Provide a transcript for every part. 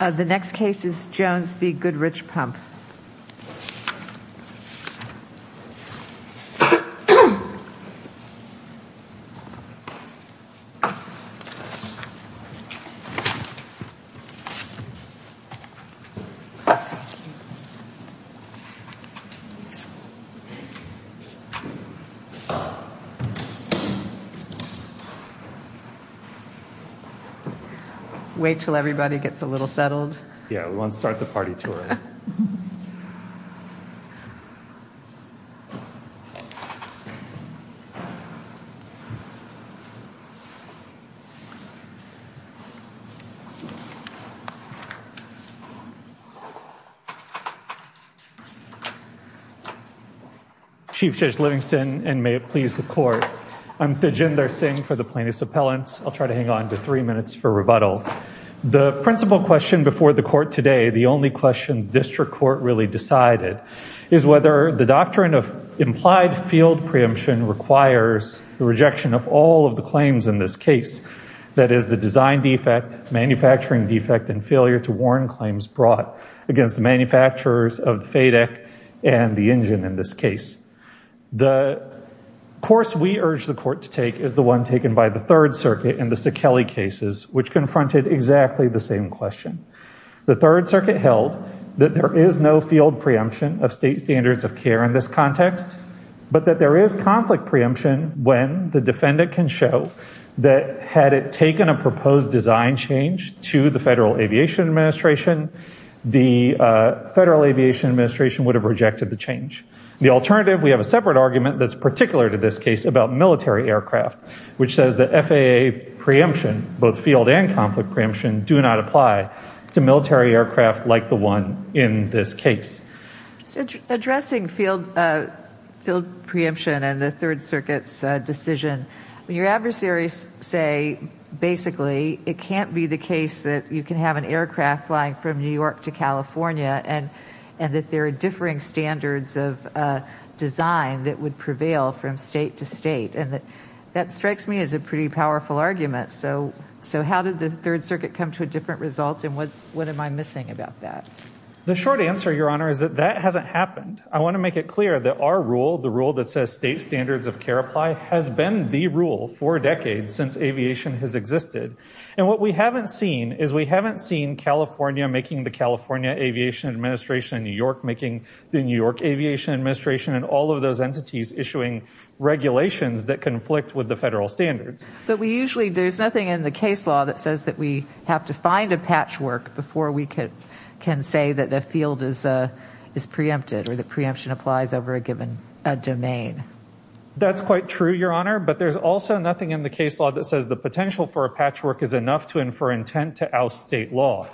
The next case is Jones v. Goodrich Pump Wait till everybody gets a little settled. Yeah, we won't start the party tour Chief Judge Livingston and may it please the court. I'm Thijinder Singh for the plaintiffs appellants I'll try to hang on to three minutes for rebuttal. The principal question before the court today The only question district court really decided is whether the doctrine of implied field preemption Requires the rejection of all of the claims in this case. That is the design defect manufacturing defect and failure to warn claims brought against the manufacturers of the FADEC and the engine in this case the Course we urge the court to take is the one taken by the Third Circuit in the Sakelly cases which confronted exactly the same question The Third Circuit held that there is no field preemption of state standards of care in this context But that there is conflict preemption when the defendant can show that had it taken a proposed design change to the Federal Aviation Administration the Federal Aviation Administration would have rejected the change the alternative. We have a separate argument That's particular to this case about military aircraft, which says the FAA Preemption both field and conflict preemption do not apply to military aircraft like the one in this case addressing field field preemption and the Third Circuit's decision when your adversaries say basically, it can't be the case that you can have an aircraft flying from New York to California and and that there are differing standards of Design that would prevail from state to state and that that strikes me as a pretty powerful argument So so how did the Third Circuit come to a different result? And what what am I missing about that? The short answer your honor is that that hasn't happened I want to make it clear that our rule the rule that says state standards of care apply has been the rule for decades since Aviation has existed and what we haven't seen is we haven't seen California making the California Aviation Administration in New York making the New York Aviation Administration and all of those entities issuing regulations that conflict with the federal standards But we usually there's nothing in the case law that says that we have to find a patchwork before we could Can say that the field is a is preempted or the preemption applies over a given domain That's quite true your honor But there's also nothing in the case law that says the potential for a patchwork is enough to infer intent to oust state law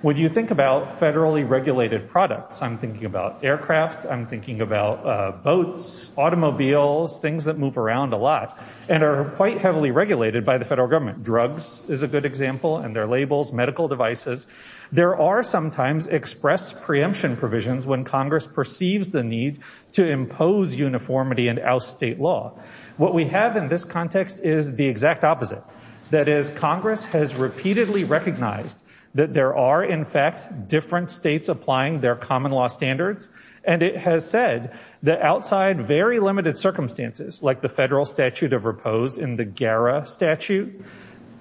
When you think about federally regulated products, I'm thinking about aircraft I'm thinking about boats Automobiles things that move around a lot and are quite heavily regulated by the federal government Drugs is a good example and their labels medical devices There are sometimes express preemption provisions when Congress perceives the need to impose Uniformity and oust state law what we have in this context is the exact opposite That is Congress has repeatedly recognized that there are in fact different states applying their common law standards And it has said that outside very limited circumstances like the federal statute of repose in the gara statute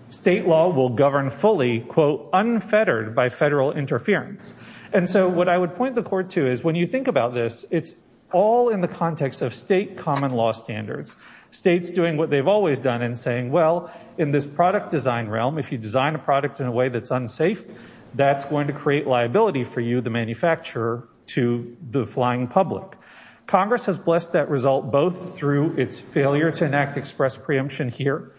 State law will govern fully quote unfettered by federal interference And so what I would point the court to is when you think about this It's all in the context of state common law standards States doing what they've always done in saying well in this product design realm if you design a product in a way that's unsafe That's going to create liability for you the manufacturer to the flying public Congress has blessed that result both through its failure to enact express preemption here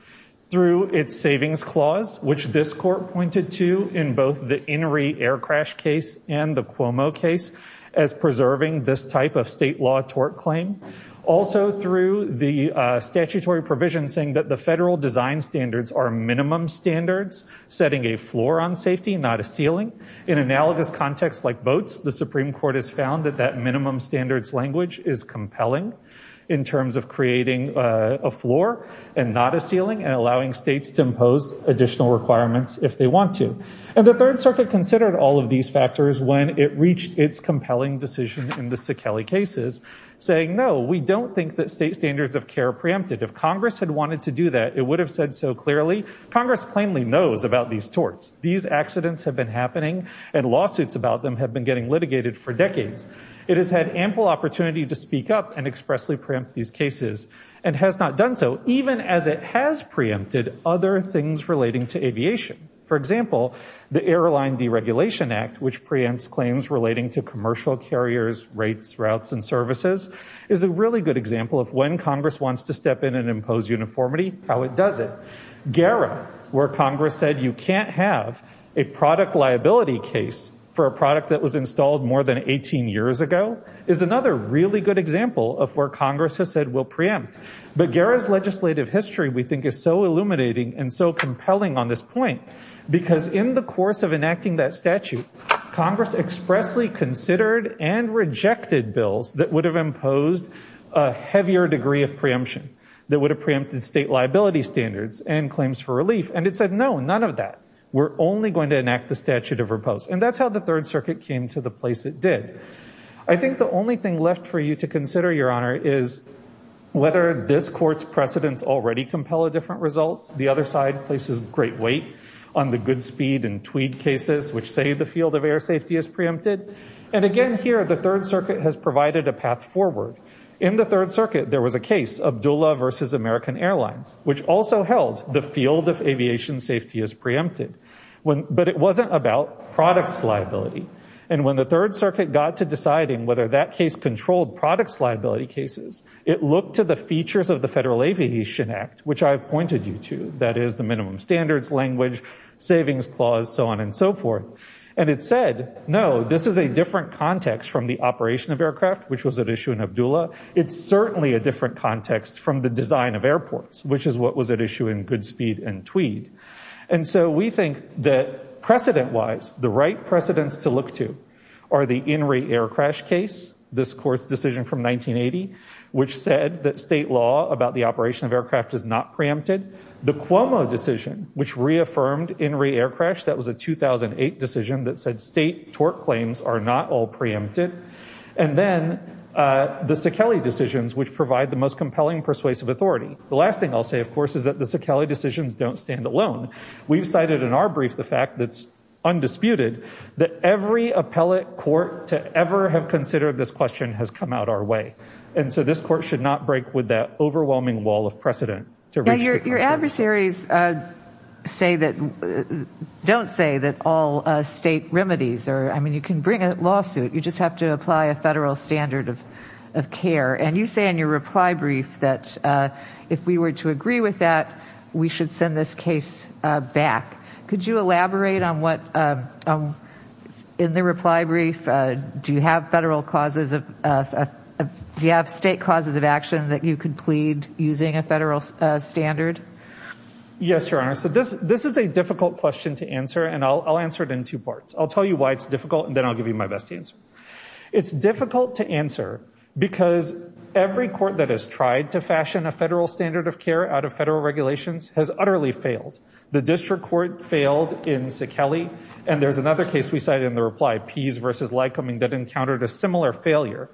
through its savings clause which this court pointed to in both the Inouye air crash case and the Cuomo case as preserving this type of state law tort claim also through the Statutory provision saying that the federal design standards are minimum standards Setting a floor on safety not a ceiling in analogous context like boats The Supreme Court has found that that minimum standards language is compelling in terms of creating a floor And not a ceiling and allowing states to impose additional requirements if they want to and the Third Circuit considered all of these factors when it reached its Preempted if Congress had wanted to do that it would have said so clearly Congress plainly knows about these torts these accidents have been happening and lawsuits about them have been getting litigated for decades It has had ample opportunity to speak up and expressly preempt these cases and has not done So even as it has preempted other things relating to aviation for example the airline Deregulation Act which preempts claims relating to commercial carriers rates routes and services is a really good example of when Congress wants to step in and impose uniformity how it does it Gara where Congress said you can't have a product liability case for a product that was installed more than 18 years ago Is another really good example of where Congress has said will preempt but Gara's legislative history We think is so illuminating and so compelling on this point because in the course of enacting that statute Congress expressly considered and rejected bills that would have imposed a Preemption that would have preempted state liability standards and claims for relief and it said no none of that We're only going to enact the statute of repose and that's how the Third Circuit came to the place it did I think the only thing left for you to consider your honor is Whether this court's precedents already compel a different results the other side places great weight on the good speed and tweed cases Which say the field of air safety is preempted and again here the Third Circuit has provided a path forward in the Third Circuit There was a case of doula versus American Airlines, which also held the field of aviation safety is preempted When but it wasn't about products liability and when the Third Circuit got to deciding whether that case controlled products liability cases It looked to the features of the Federal Aviation Act, which I've pointed you to that is the minimum standards language Savings clause so on and so forth and it said no This is a different context from the operation of aircraft, which was at issue in Abdullah It's certainly a different context from the design of airports, which is what was at issue in good speed and tweed And so we think that Precedent wise the right precedents to look to are the in re air crash case this court's decision from 1980 Which said that state law about the operation of aircraft is not preempted the Cuomo decision which reaffirmed in re air crash that was a 2008 decision that said state torque claims are not all preempted and then The sakele decisions which provide the most compelling persuasive authority the last thing I'll say of course is that the sakele decisions don't stand alone We've cited in our brief the fact that's Undisputed that every appellate court to ever have considered this question has come out our way And so this court should not break with that overwhelming wall of precedent to your adversaries say that Don't say that all state remedies or I mean you can bring a lawsuit you just have to apply a federal standard of care and you say in your reply brief that If we were to agree with that, we should send this case back. Could you elaborate on what? In the reply brief. Do you have federal causes of? Do you have state causes of action that you could plead using a federal standard? Yes, your honor. So this this is a difficult question to answer and I'll answer it in two parts I'll tell you why it's difficult and then I'll give you my best answer. It's difficult to answer because Every court that has tried to fashion a federal standard of care out of federal regulations has utterly failed The district court failed in sakele and there's another case we cited in the reply Pease versus Lycoming that encountered a similar failure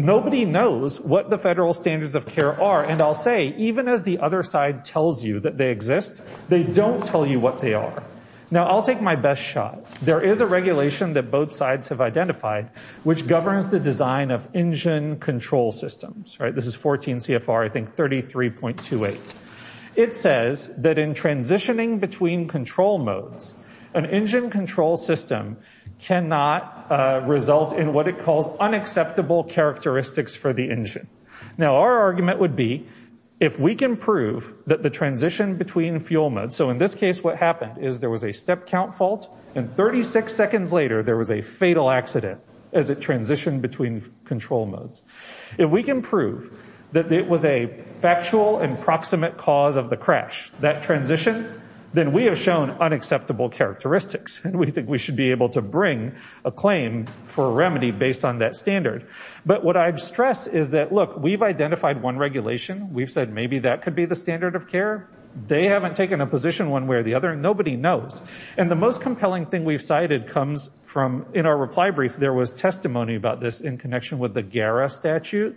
Nobody knows what the federal standards of care are and I'll say even as the other side tells you that they exist They don't tell you what they are. Now. I'll take my best shot There is a regulation that both sides have identified which governs the design of engine control systems, right? This is 14 CFR. I think thirty three point two eight it says that in transitioning between control modes an engine control system cannot result in what it calls unacceptable characteristics for the engine now our argument would be if We can prove that the transition between fuel mode So in this case, what happened is there was a step count fault and 36 seconds later there was a fatal accident as it transitioned between control modes if we can prove that it was a Factual and proximate cause of the crash that transition then we have shown unacceptable characteristics And we think we should be able to bring a claim for a remedy based on that standard But what I'd stress is that look we've identified one regulation. We've said maybe that could be the standard of care They haven't taken a position one way or the other and nobody knows and the most compelling thing We've cited comes from in our reply brief. There was testimony about this in connection with the Gara statute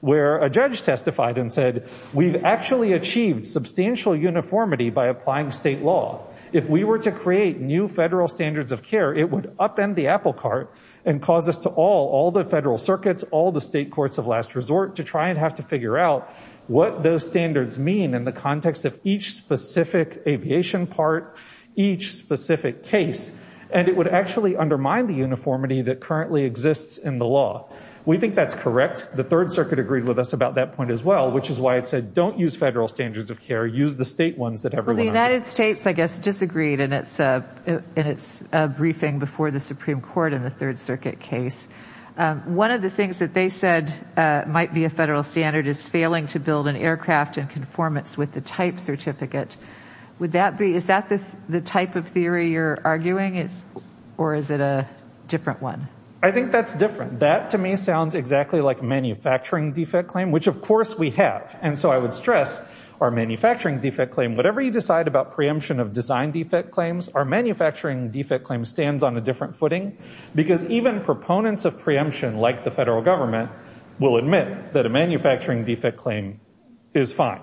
Where a judge testified and said we've actually achieved Substantial uniformity by applying state law if we were to create new federal standards of care It would upend the apple cart and cause us to all all the federal circuits all the state courts of last resort to try and have To figure out what those standards mean in the context of each specific aviation part each Specific case and it would actually undermine the uniformity that currently exists in the law We think that's correct The Third Circuit agreed with us about that point as well Which is why it said don't use federal standards of care use the state ones that have the United States I guess disagreed and it's a it's a briefing before the Supreme Court in the Third Circuit case One of the things that they said might be a federal standard is failing to build an aircraft in conformance with the type certificate Would that be is that the the type of theory you're arguing? It's or is it a different one? I think that's different that to me sounds exactly like manufacturing defect claim Which of course we have and so I would stress our manufacturing defect claim Whatever you decide about preemption of design defect claims our manufacturing defect claim stands on a different footing Because even proponents of preemption like the federal government will admit that a manufacturing defect claim is fine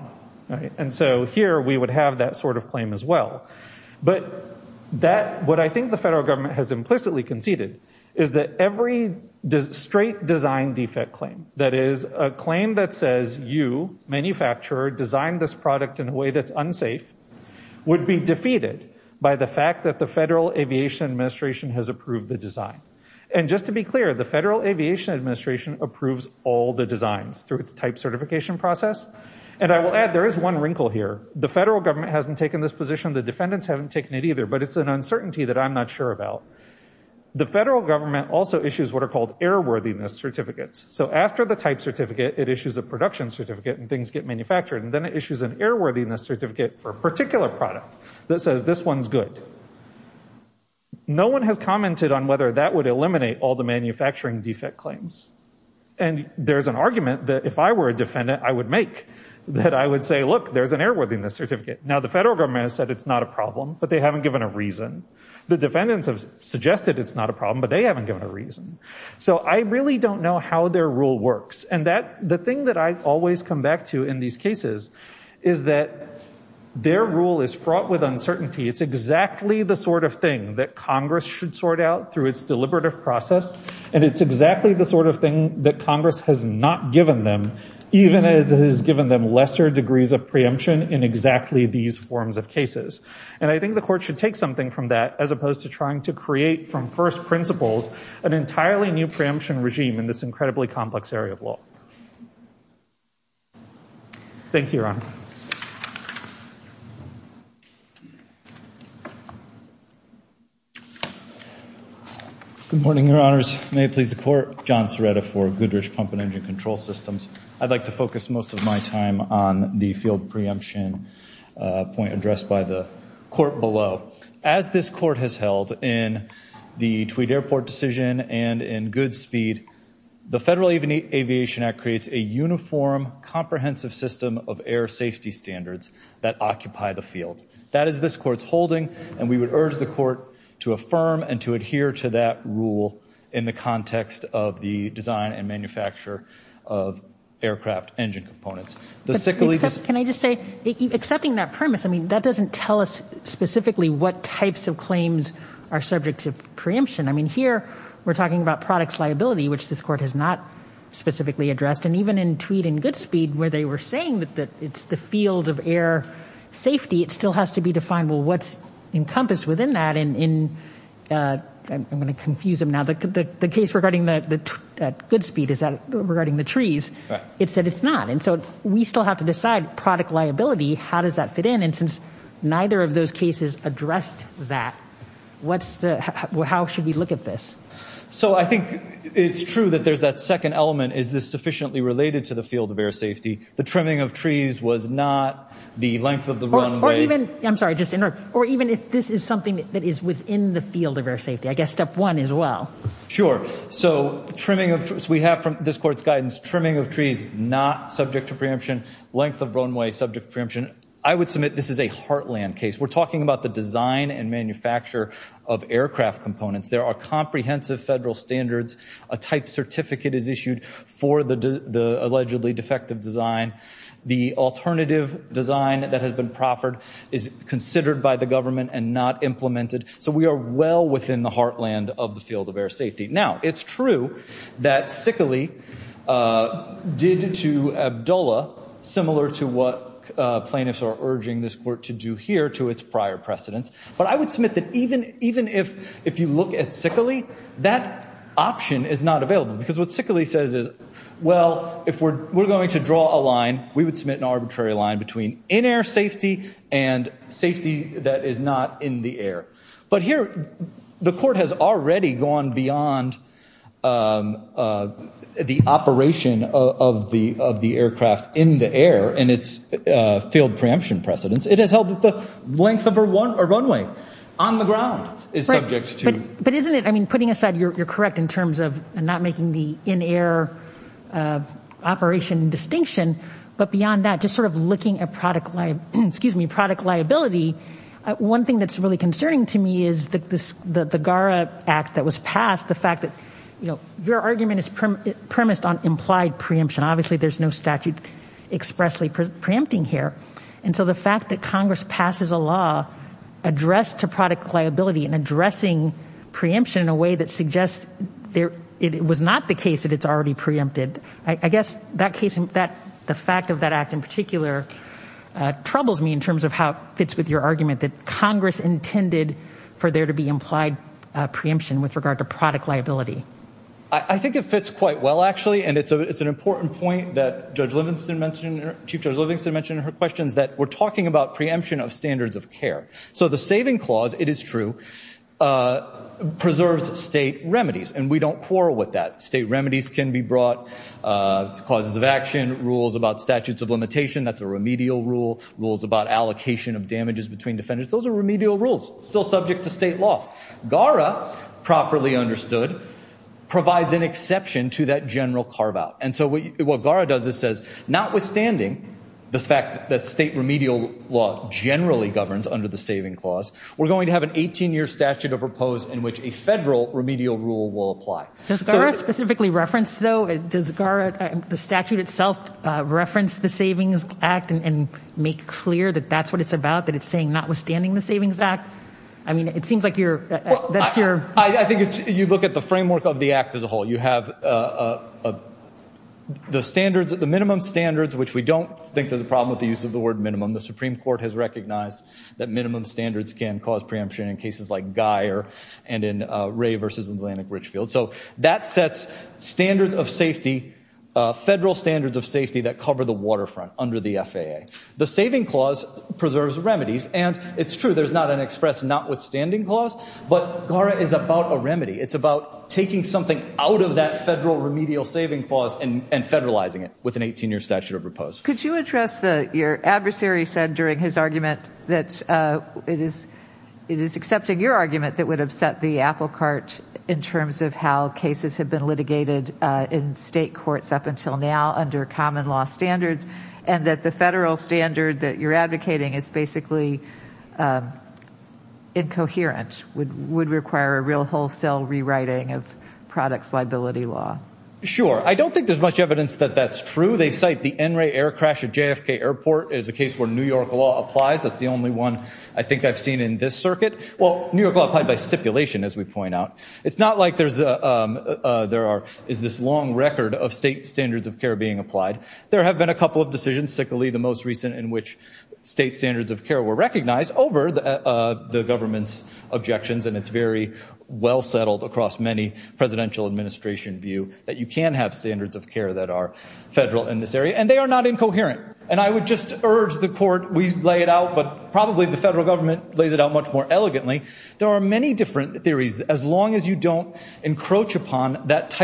And so here we would have that sort of claim as well But that what I think the federal government has implicitly conceded is that every does straight design defect claim? That is a claim that says you Manufacturer designed this product in a way that's unsafe Would be defeated by the fact that the Federal Aviation Administration has approved the design and just to be clear the Federal Aviation Administration approves all the designs through its type certification process and I will add there is one wrinkle here The federal government hasn't taken this position. The defendants haven't taken it either, but it's an uncertainty that I'm not sure about The federal government also issues what are called airworthiness certificates So after the type certificate it issues a production certificate and things get manufactured and then it issues an airworthiness Certificate for a particular product that says this one's good no one has commented on whether that would eliminate all the manufacturing defect claims and There's an argument that if I were a defendant I would make That I would say look there's an airworthiness certificate now the federal government said it's not a problem The defendants have suggested it's not a problem, but they haven't given a reason So I really don't know how their rule works and that the thing that I always come back to in these cases is that Their rule is fraught with uncertainty It's exactly the sort of thing that Congress should sort out through its deliberative process And it's exactly the sort of thing that Congress has not given them Even as it has given them lesser degrees of preemption in exactly these forms of cases And I think the court should take something from that as opposed to trying to create from first principles an entirely new preemption regime in This incredibly complex area of law Thank you, Your Honor Good morning, Your Honors. May it please the court. John Serretta for Goodrich Pump and Engine Control Systems I'd like to focus most of my time on the field preemption point addressed by the court below. As this court has held in The Tweed Airport decision and in Goodspeed, the Federal Aviation Act creates a uniform comprehensive system of air safety standards that occupy the field. That is this court's holding and we would urge the court to affirm and to adhere to that rule in the context of the design and manufacture of Can I just say accepting that premise, I mean that doesn't tell us specifically what types of claims are subject to preemption I mean here we're talking about products liability, which this court has not Specifically addressed and even in Tweed and Goodspeed where they were saying that that it's the field of air Safety, it still has to be defined. Well, what's encompassed within that and in I'm gonna confuse them now the case regarding the Goodspeed is that regarding the trees It said it's not and so we still have to decide product liability How does that fit in and since neither of those cases addressed that? What's the how should we look at this? So I think it's true that there's that second element Is this sufficiently related to the field of air safety? The trimming of trees was not the length of the runway I'm sorry, just interrupt or even if this is something that is within the field of air safety I guess step one as well. Sure. So trimming of trees we have from this court's guidance trimming of trees Not subject to preemption length of runway subject preemption. I would submit this is a heartland case We're talking about the design and manufacture of aircraft components There are comprehensive federal standards a type certificate is issued for the the allegedly defective design The alternative design that has been proffered is considered by the government and not implemented So we are well within the heartland of the field of air safety now, it's true that sickly Did to Abdullah similar to what? Plaintiffs are urging this court to do here to its prior precedents but I would submit that even even if if you look at sickly that Option is not available because what sickly says is well if we're we're going to draw a line we would submit an arbitrary line between in-air safety and Safety that is not in the air, but here the court has already gone beyond The operation of the of the aircraft in the air and its Field preemption precedents it has held the length of her one or runway on the ground is subject to but isn't it? I mean putting aside you're correct in terms of not making the in-air Operation Distinction but beyond that just sort of looking at product life. Excuse me product liability one thing that's really concerning to me is that this the the gara act that was passed the fact that you know, Your argument is premised on implied preemption. Obviously, there's no statute Expressly preempting here. And so the fact that Congress passes a law addressed to product liability and addressing Preemption in a way that suggests there it was not the case that it's already preempted I guess that case that the fact of that act in particular Troubles me in terms of how it fits with your argument that Congress intended for there to be implied Preemption with regard to product liability. I think it fits quite well actually and it's a it's an important point that Judge Livingston mentioned Chief Judge Livingston mentioned in her questions that we're talking about preemption of standards of care. So the saving clause it is true Preserves state remedies and we don't quarrel with that state remedies can be brought Causes of action rules about statutes of limitation. That's a remedial rule rules about allocation of damages between defendants Those are remedial rules still subject to state law gara properly understood Provides an exception to that general carve-out and so what gara does is says notwithstanding The fact that state remedial law generally governs under the saving clause We're going to have an 18-year statute of repose in which a federal remedial rule will apply Does gara specifically reference though does gara the statute itself? Reference the Savings Act and make clear that that's what it's about that it's saying notwithstanding the Savings Act I mean, it seems like you're that's your I think it's you look at the framework of the act as a whole you have The standards at the minimum standards Which we don't think there's a problem with the use of the word minimum the Supreme Court has recognized that minimum standards can cause preemption in cases like Geyer and in Ray versus Atlantic Richfield, so that sets standards of safety Federal standards of safety that cover the waterfront under the FAA the saving clause preserves remedies and it's true There's not an express notwithstanding clause, but gara is about a remedy It's about taking something out of that federal remedial saving clause and and federalizing it with an 18-year statute of repose Could you address the your adversary said during his argument that it is It is accepting your argument that would upset the applecart in terms of how cases have been litigated In state courts up until now under common law standards and that the federal standard that you're advocating is basically In Coherent would would require a real wholesale rewriting of products liability law sure I don't think there's much evidence that that's true They cite the NRA air crash at JFK Airport is a case where New York law applies That's the only one I think I've seen in this circuit. Well, New York law applied by stipulation as we point out it's not like there's a There are is this long record of state standards of care being applied? There have been a couple of decisions sickly the most recent in which state standards of care were recognized over the government's objections And it's very well settled across many presidential administration view that you can have standards of care that are Federal in this area and they are not incoherent and I would just urge the court We lay it out, but probably the federal government lays it out much more elegantly There are many different theories as long as you don't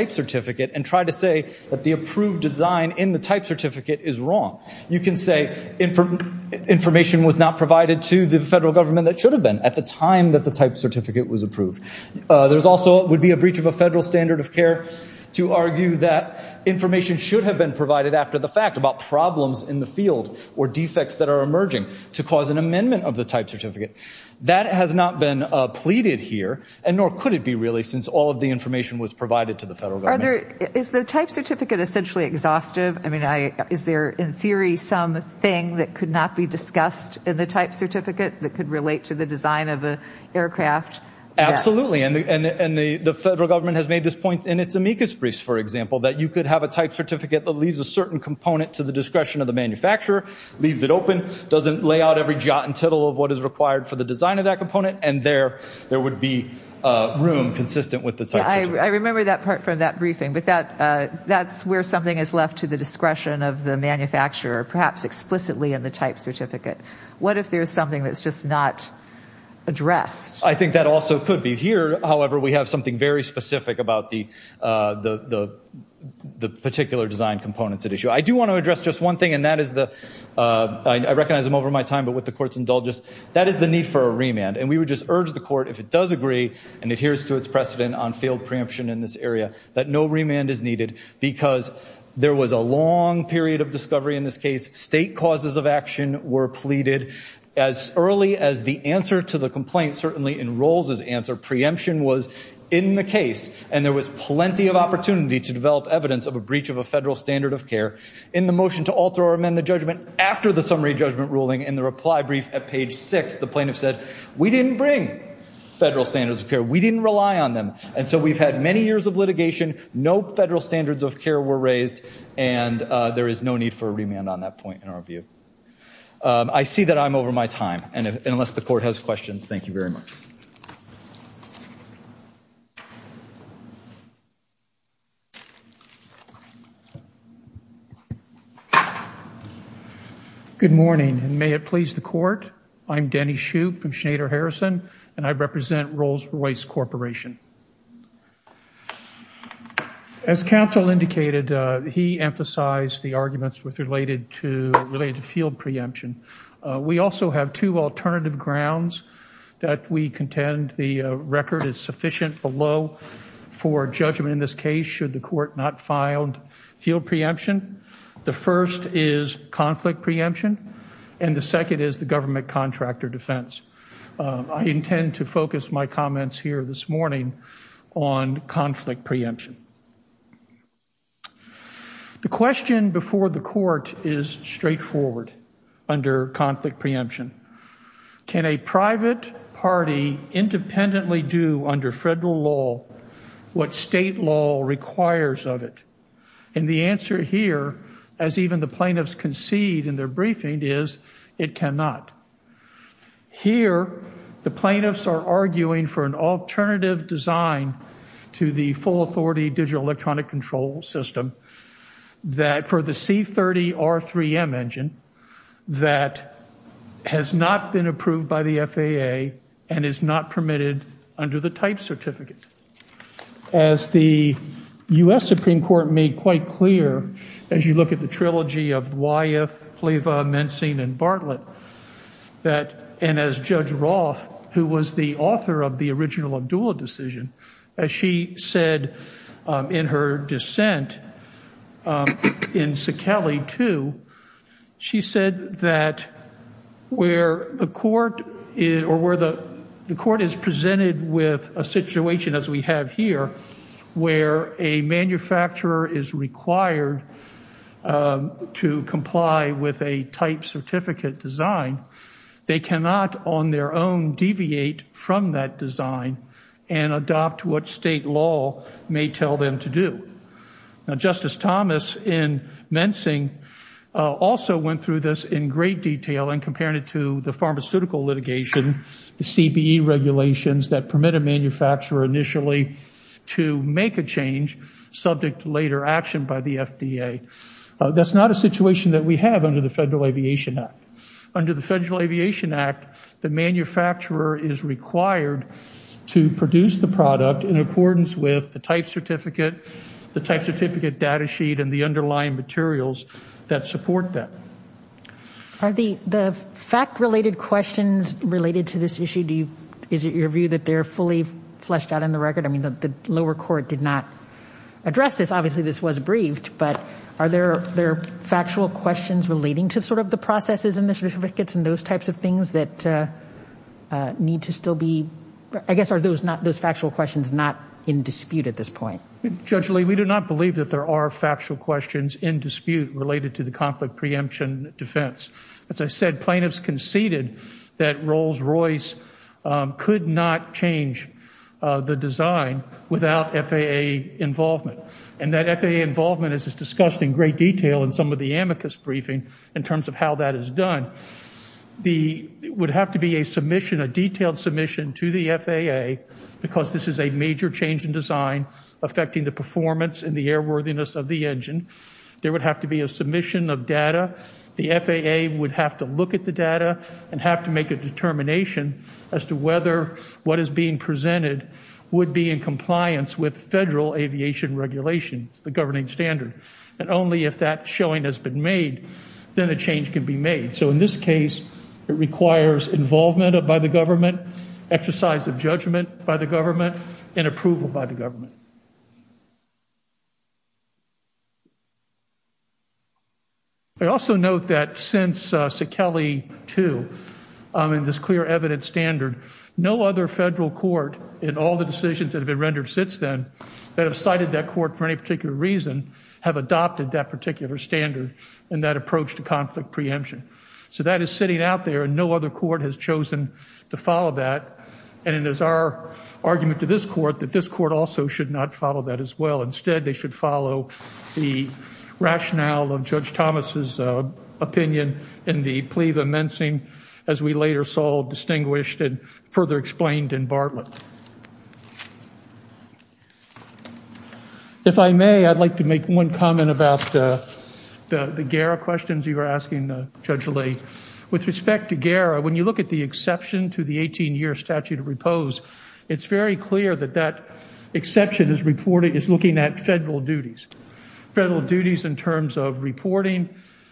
Certificate and try to say that the approved design in the type certificate is wrong. You can say in Information was not provided to the federal government that should have been at the time that the type certificate was approved There's also would be a breach of a federal standard of care to argue that Information should have been provided after the fact about problems in the field or defects that are emerging To cause an amendment of the type certificate that has not been Pleaded here and nor could it be really since all of the information was provided to the federal Are there is the type certificate essentially exhaustive? I mean I is there in theory some thing that could not be discussed in the type certificate that could relate to the design of a aircraft Absolutely, and the and the and the the federal government has made this point in its amicus briefs For example that you could have a type certificate that leaves a certain component to the discretion of the manufacturer Leaves it open doesn't lay out every jot and tittle of what is required for the design of that component and there there would be Room consistent with the site. I remember that part from that briefing But that that's where something is left to the discretion of the manufacturer perhaps explicitly in the type certificate What if there's something that's just not? Addressed. I think that also could be here. However, we have something very specific about the the The particular design components at issue I do want to address just one thing and that is the I recognize them over my time But with the courts indulges that is the need for a remand and we would just urge the court if it does agree and it Here's to its precedent on field preemption in this area that no remand is needed because there was a long period of discovery in this case state causes of action were pleaded as Early as the answer to the complaint certainly enrolls as answer preemption was in the case and there was plenty of opportunity to develop evidence of a breach of a federal standard of care in the motion to alter or amend the judgment after the Summary judgment ruling in the reply brief at page 6 the plaintiff said we didn't bring Federal standards of care we didn't rely on them. And so we've had many years of litigation. No federal standards of care were raised and There is no need for a remand on that point in our view I see that I'm over my time and unless the court has questions. Thank you very much You Good morning, and may it please the court. I'm Denny Shoup from Schneider Harrison and I represent Rolls-Royce Corporation As counsel indicated he emphasized the arguments with related to related to field preemption We also have two alternative grounds that we contend the record is sufficient below For judgment in this case should the court not filed field preemption The first is conflict preemption and the second is the government contractor defense I intend to focus my comments here this morning on conflict preemption The question before the court is straightforward under conflict preemption Can a private party independently do under federal law? What state law requires of it and the answer here as even the plaintiffs concede in their briefing is It cannot Here the plaintiffs are arguing for an alternative design to the full authority digital electronic control system that for the c30 r3m engine that Has not been approved by the FAA and is not permitted under the type certificate as the U.s. Supreme Court made quite clear as you look at the trilogy of why if Cleaver men seen in Bartlett That and as judge Roth who was the author of the original of dual decision as she said in her dissent in Sacali to she said that Where the court is or where the the court is presented with a situation as we have here Where a manufacturer is required To comply with a type certificate design They cannot on their own deviate from that design and adopt what state law may tell them to do now justice Thomas in mensing Also went through this in great detail and comparing it to the pharmaceutical litigation the CBE Regulations that permit a manufacturer initially to make a change subject to later action by the FDA That's not a situation that we have under the Federal Aviation Act under the Federal Aviation Act. The manufacturer is required To produce the product in accordance with the type certificate The type certificate data sheet and the underlying materials that support that Are the the fact related questions related to this issue? Do you is it your view that they're fully fleshed out on the record? I mean the lower court did not address this obviously this was briefed but are there there factual questions relating to sort of the processes and the certificates and those types of things that Need to still be I guess are those not those factual questions not in dispute at this point Judge Lee we do not believe that there are factual questions in dispute related to the conflict preemption defense As I said plaintiffs conceded that Rolls-Royce Could not change the design without FAA Involvement and that FAA involvement is discussed in great detail in some of the amicus briefing in terms of how that is done The would have to be a submission a detailed submission to the FAA Because this is a major change in design Affecting the performance and the airworthiness of the engine there would have to be a submission of data The FAA would have to look at the data and have to make a determination As to whether what is being presented would be in compliance with federal aviation Regulations the governing standard and only if that showing has been made then a change can be made So in this case, it requires involvement of by the government Exercise of judgment by the government and approval by the government They also note that since Sikele 2 In this clear evidence standard no other federal court in all the decisions that have been rendered since then That have cited that court for any particular reason have adopted that particular standard and that approach to conflict preemption So that is sitting out there and no other court has chosen to follow that and it is our Argument to this court that this court also should not follow that as well. Instead. They should follow the rationale of Judge Thomas's Opinion in the plea the mensing as we later saw distinguished and further explained in Bartlett If I may I'd like to make one comment about The the gara questions you were asking the judge late with respect to gara when you look at the exception to the 18-year statute of Repose, it's very clear that that Exception is reported is looking at federal duties federal duties in terms of reporting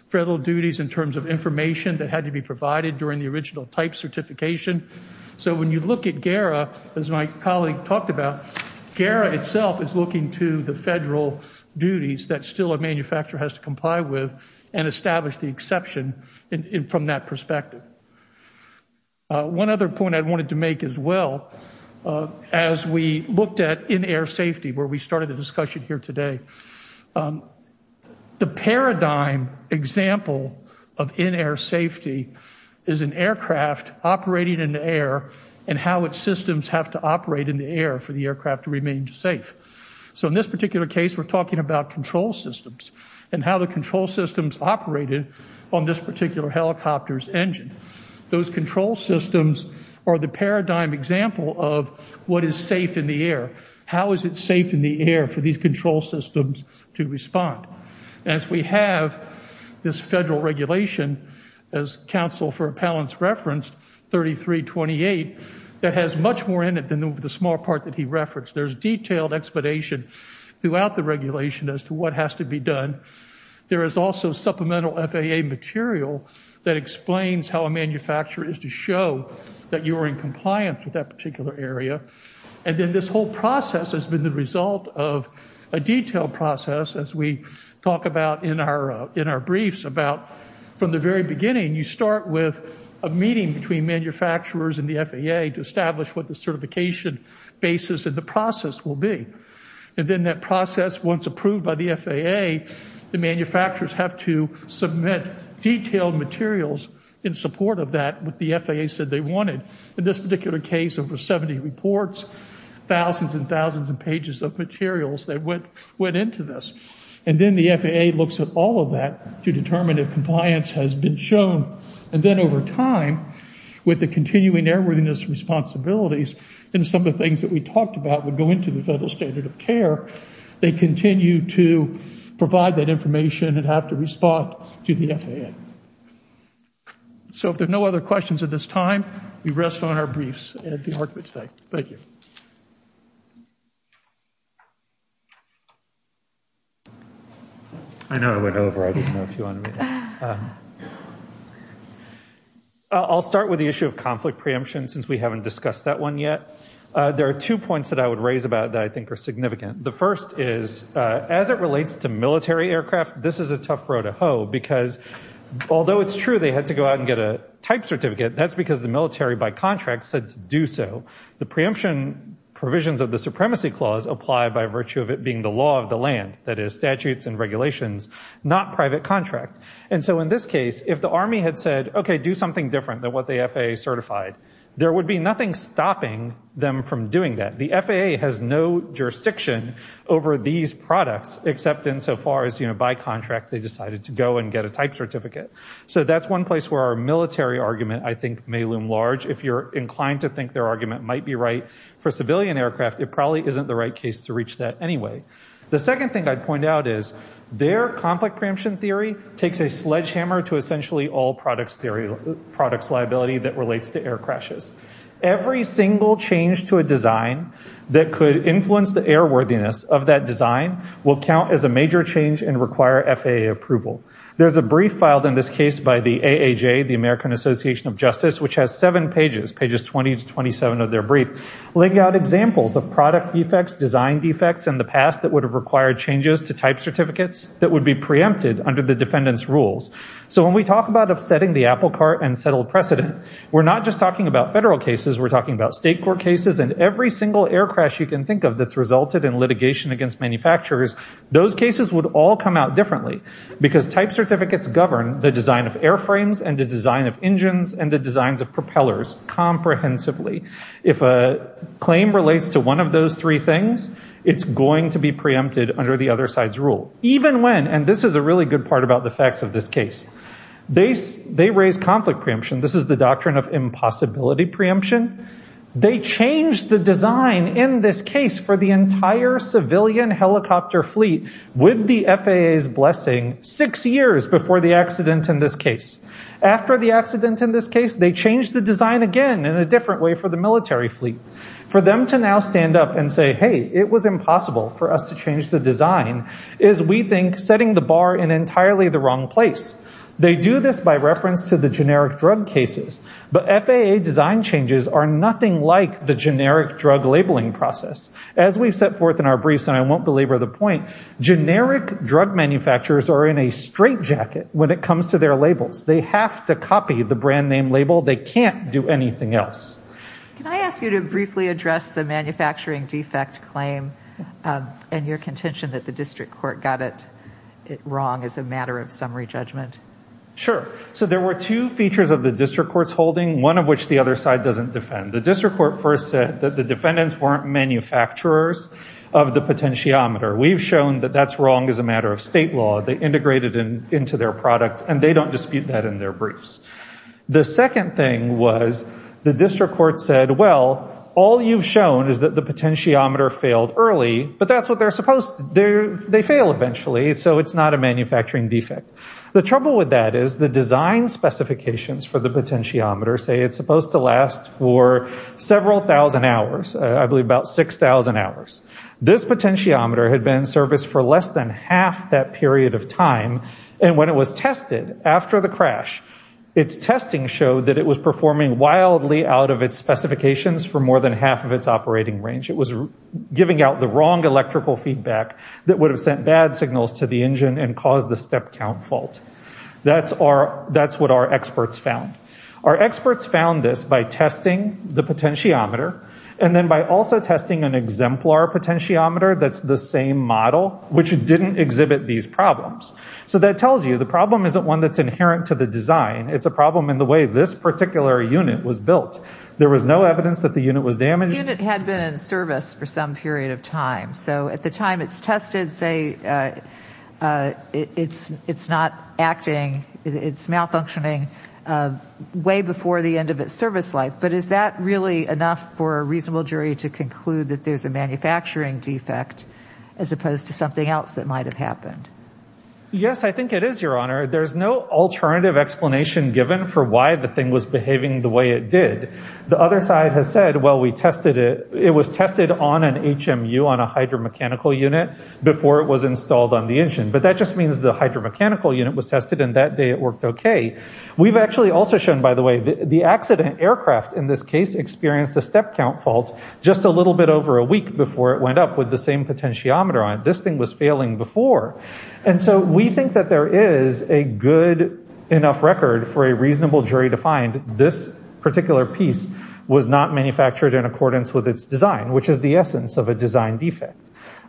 Federal duties in terms of information that had to be provided during the original type certification So when you look at gara as my colleague talked about gara itself is looking to the federal Duties that still a manufacturer has to comply with and establish the exception in from that perspective One other point I wanted to make as well as we looked at in air safety where we started the discussion here today The paradigm Example of in air safety is an aircraft Operating in the air and how its systems have to operate in the air for the aircraft to remain safe So in this particular case, we're talking about control systems and how the control systems operated on this particular Helicopters engine those control systems are the paradigm example of what is safe in the air How is it safe in the air for these control systems to respond as we have? this federal regulation as counsel for appellants referenced 3328 that has much more in it than over the small part that he referenced. There's detailed explanation Throughout the regulation as to what has to be done There is also supplemental FAA material that explains how a manufacturer is to show that you are in compliance with that particular area and then this whole process has been the result of a Detailed process as we talk about in our in our briefs about from the very beginning You start with a meeting between manufacturers and the FAA to establish what the certification Basis of the process will be and then that process once approved by the FAA The manufacturers have to submit detailed materials in support of that with the FAA said they wanted in this particular case over 70 reports Thousands and thousands of pages of materials that went went into this and then the FAA looks at all of that to determine if Compliance has been shown and then over time with the continuing airworthiness Responsibilities and some of the things that we talked about would go into the federal standard of care they continue to Provide that information and have to respond to the FAA So if there's no other questions at this time we rest on our briefs at the argument today, thank you I know I went over I I'll start with the issue of conflict preemption since we haven't discussed that one yet There are two points that I would raise about that. I think are significant The first is as it relates to military aircraft. This is a tough row to hoe because Although it's true. They had to go out and get a type certificate That's because the military by contract said to do so the preemption Provisions of the supremacy clause apply by virtue of it being the law of the land that is statutes and regulations Not private contract. And so in this case if the army had said, okay do something different than what the FAA certified There would be nothing stopping them from doing that. The FAA has no Jurisdiction over these products except insofar as you know by contract they decided to go and get a type certificate So that's one place where our military argument I think may loom large if you're inclined to think their argument might be right for civilian aircraft It probably isn't the right case to reach that The second thing I'd point out is their conflict preemption theory takes a sledgehammer to essentially all products theory products liability that relates to air crashes Every single change to a design that could influence the air worthiness of that design Will count as a major change and require FAA approval There's a brief filed in this case by the AAJ the American Association of Justice Which has seven pages pages 20 to 27 of their brief Laying out examples of product defects design defects in the past that would have required changes to type certificates That would be preempted under the defendants rules So when we talk about upsetting the apple cart and settled precedent, we're not just talking about federal cases We're talking about state court cases and every single air crash you can think of that's resulted in litigation against manufacturers Those cases would all come out differently because type certificates govern the design of airframes and the design of engines and the designs of propellers Comprehensively if a claim relates to one of those three things It's going to be preempted under the other side's rule even when and this is a really good part about the facts of this case They they raise conflict preemption. This is the doctrine of impossibility preemption They changed the design in this case for the entire Civilian helicopter fleet with the FAA's blessing six years before the accident in this case After the accident in this case They changed the design again in a different way for the military fleet for them to now stand up and say hey It was impossible for us to change the design is we think setting the bar in entirely the wrong place They do this by reference to the generic drug cases But FAA design changes are nothing like the generic drug labeling process as we've set forth in our briefs And I won't belabor the point Generic drug manufacturers are in a straitjacket when it comes to their labels. They have to copy the brand name label They can't do anything else. Can I ask you to briefly address the manufacturing defect claim? And your contention that the district court got it it wrong as a matter of summary judgment Sure So there were two features of the district courts holding one of which the other side doesn't defend the district court first said that the defendants Manufacturers of the potentiometer we've shown that that's wrong as a matter of state law They integrated in into their product and they don't dispute that in their briefs The second thing was the district court said well all you've shown is that the potentiometer failed early But that's what they're supposed to do they fail eventually So it's not a manufacturing defect the trouble with that is the design Specifications for the potentiometer say it's supposed to last for several thousand hours I believe about six thousand hours This potentiometer had been serviced for less than half that period of time and when it was tested after the crash Its testing showed that it was performing wildly out of its specifications for more than half of its operating range It was giving out the wrong electrical feedback that would have sent bad signals to the engine and caused the step count fault That's our that's what our experts found Our experts found this by testing the potentiometer and then by also testing an exemplar potentiometer That's the same model which didn't exhibit these problems. So that tells you the problem isn't one that's inherent to the design It's a problem in the way this particular unit was built There was no evidence that the unit was damaged and it had been in service for some period of time so at the time it's tested say It's it's not acting it's malfunctioning Way before the end of its service life But is that really enough for a reasonable jury to conclude that there's a manufacturing defect as opposed to something else that might have happened Yes, I think it is your honor There's no alternative explanation given for why the thing was behaving the way it did the other side has said well We tested it. It was tested on an HMU on a hydromechanical unit before it was installed on the engine But that just means the hydromechanical unit was tested and that day it worked We've actually also shown by the way the accident aircraft in this case experienced a step count fault Just a little bit over a week before it went up with the same potentiometer on it This thing was failing before and so we think that there is a good Enough record for a reasonable jury to find this particular piece was not manufactured in accordance with its design Which is the essence of a design defect?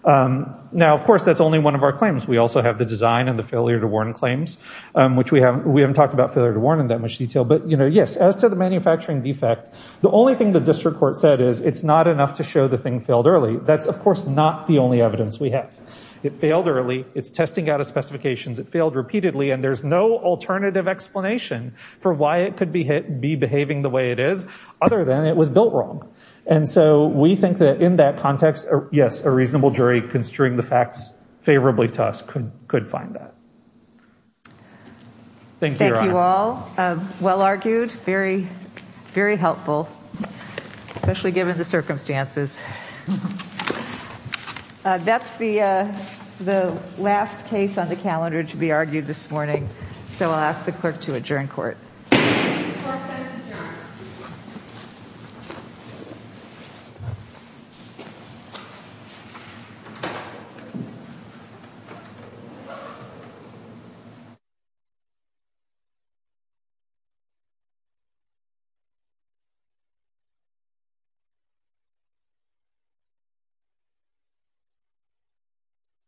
Now, of course, that's only one of our claims We also have the design and the failure to warn claims, which we haven't we haven't talked about failure to warn in that much detail But you know, yes as to the manufacturing defect The only thing the district court said is it's not enough to show the thing failed early That's of course not the only evidence we have it failed early. It's testing out of specifications It failed repeatedly and there's no alternative explanation for why it could be hit be behaving the way it is Other than it was built wrong. And so we think that in that context. Yes a reasonable jury construing the facts favorably to us Could find that Thank you all well argued very very helpful especially given the circumstances That's the the last case on the calendar to be argued this morning, so I'll ask the clerk to adjourn court You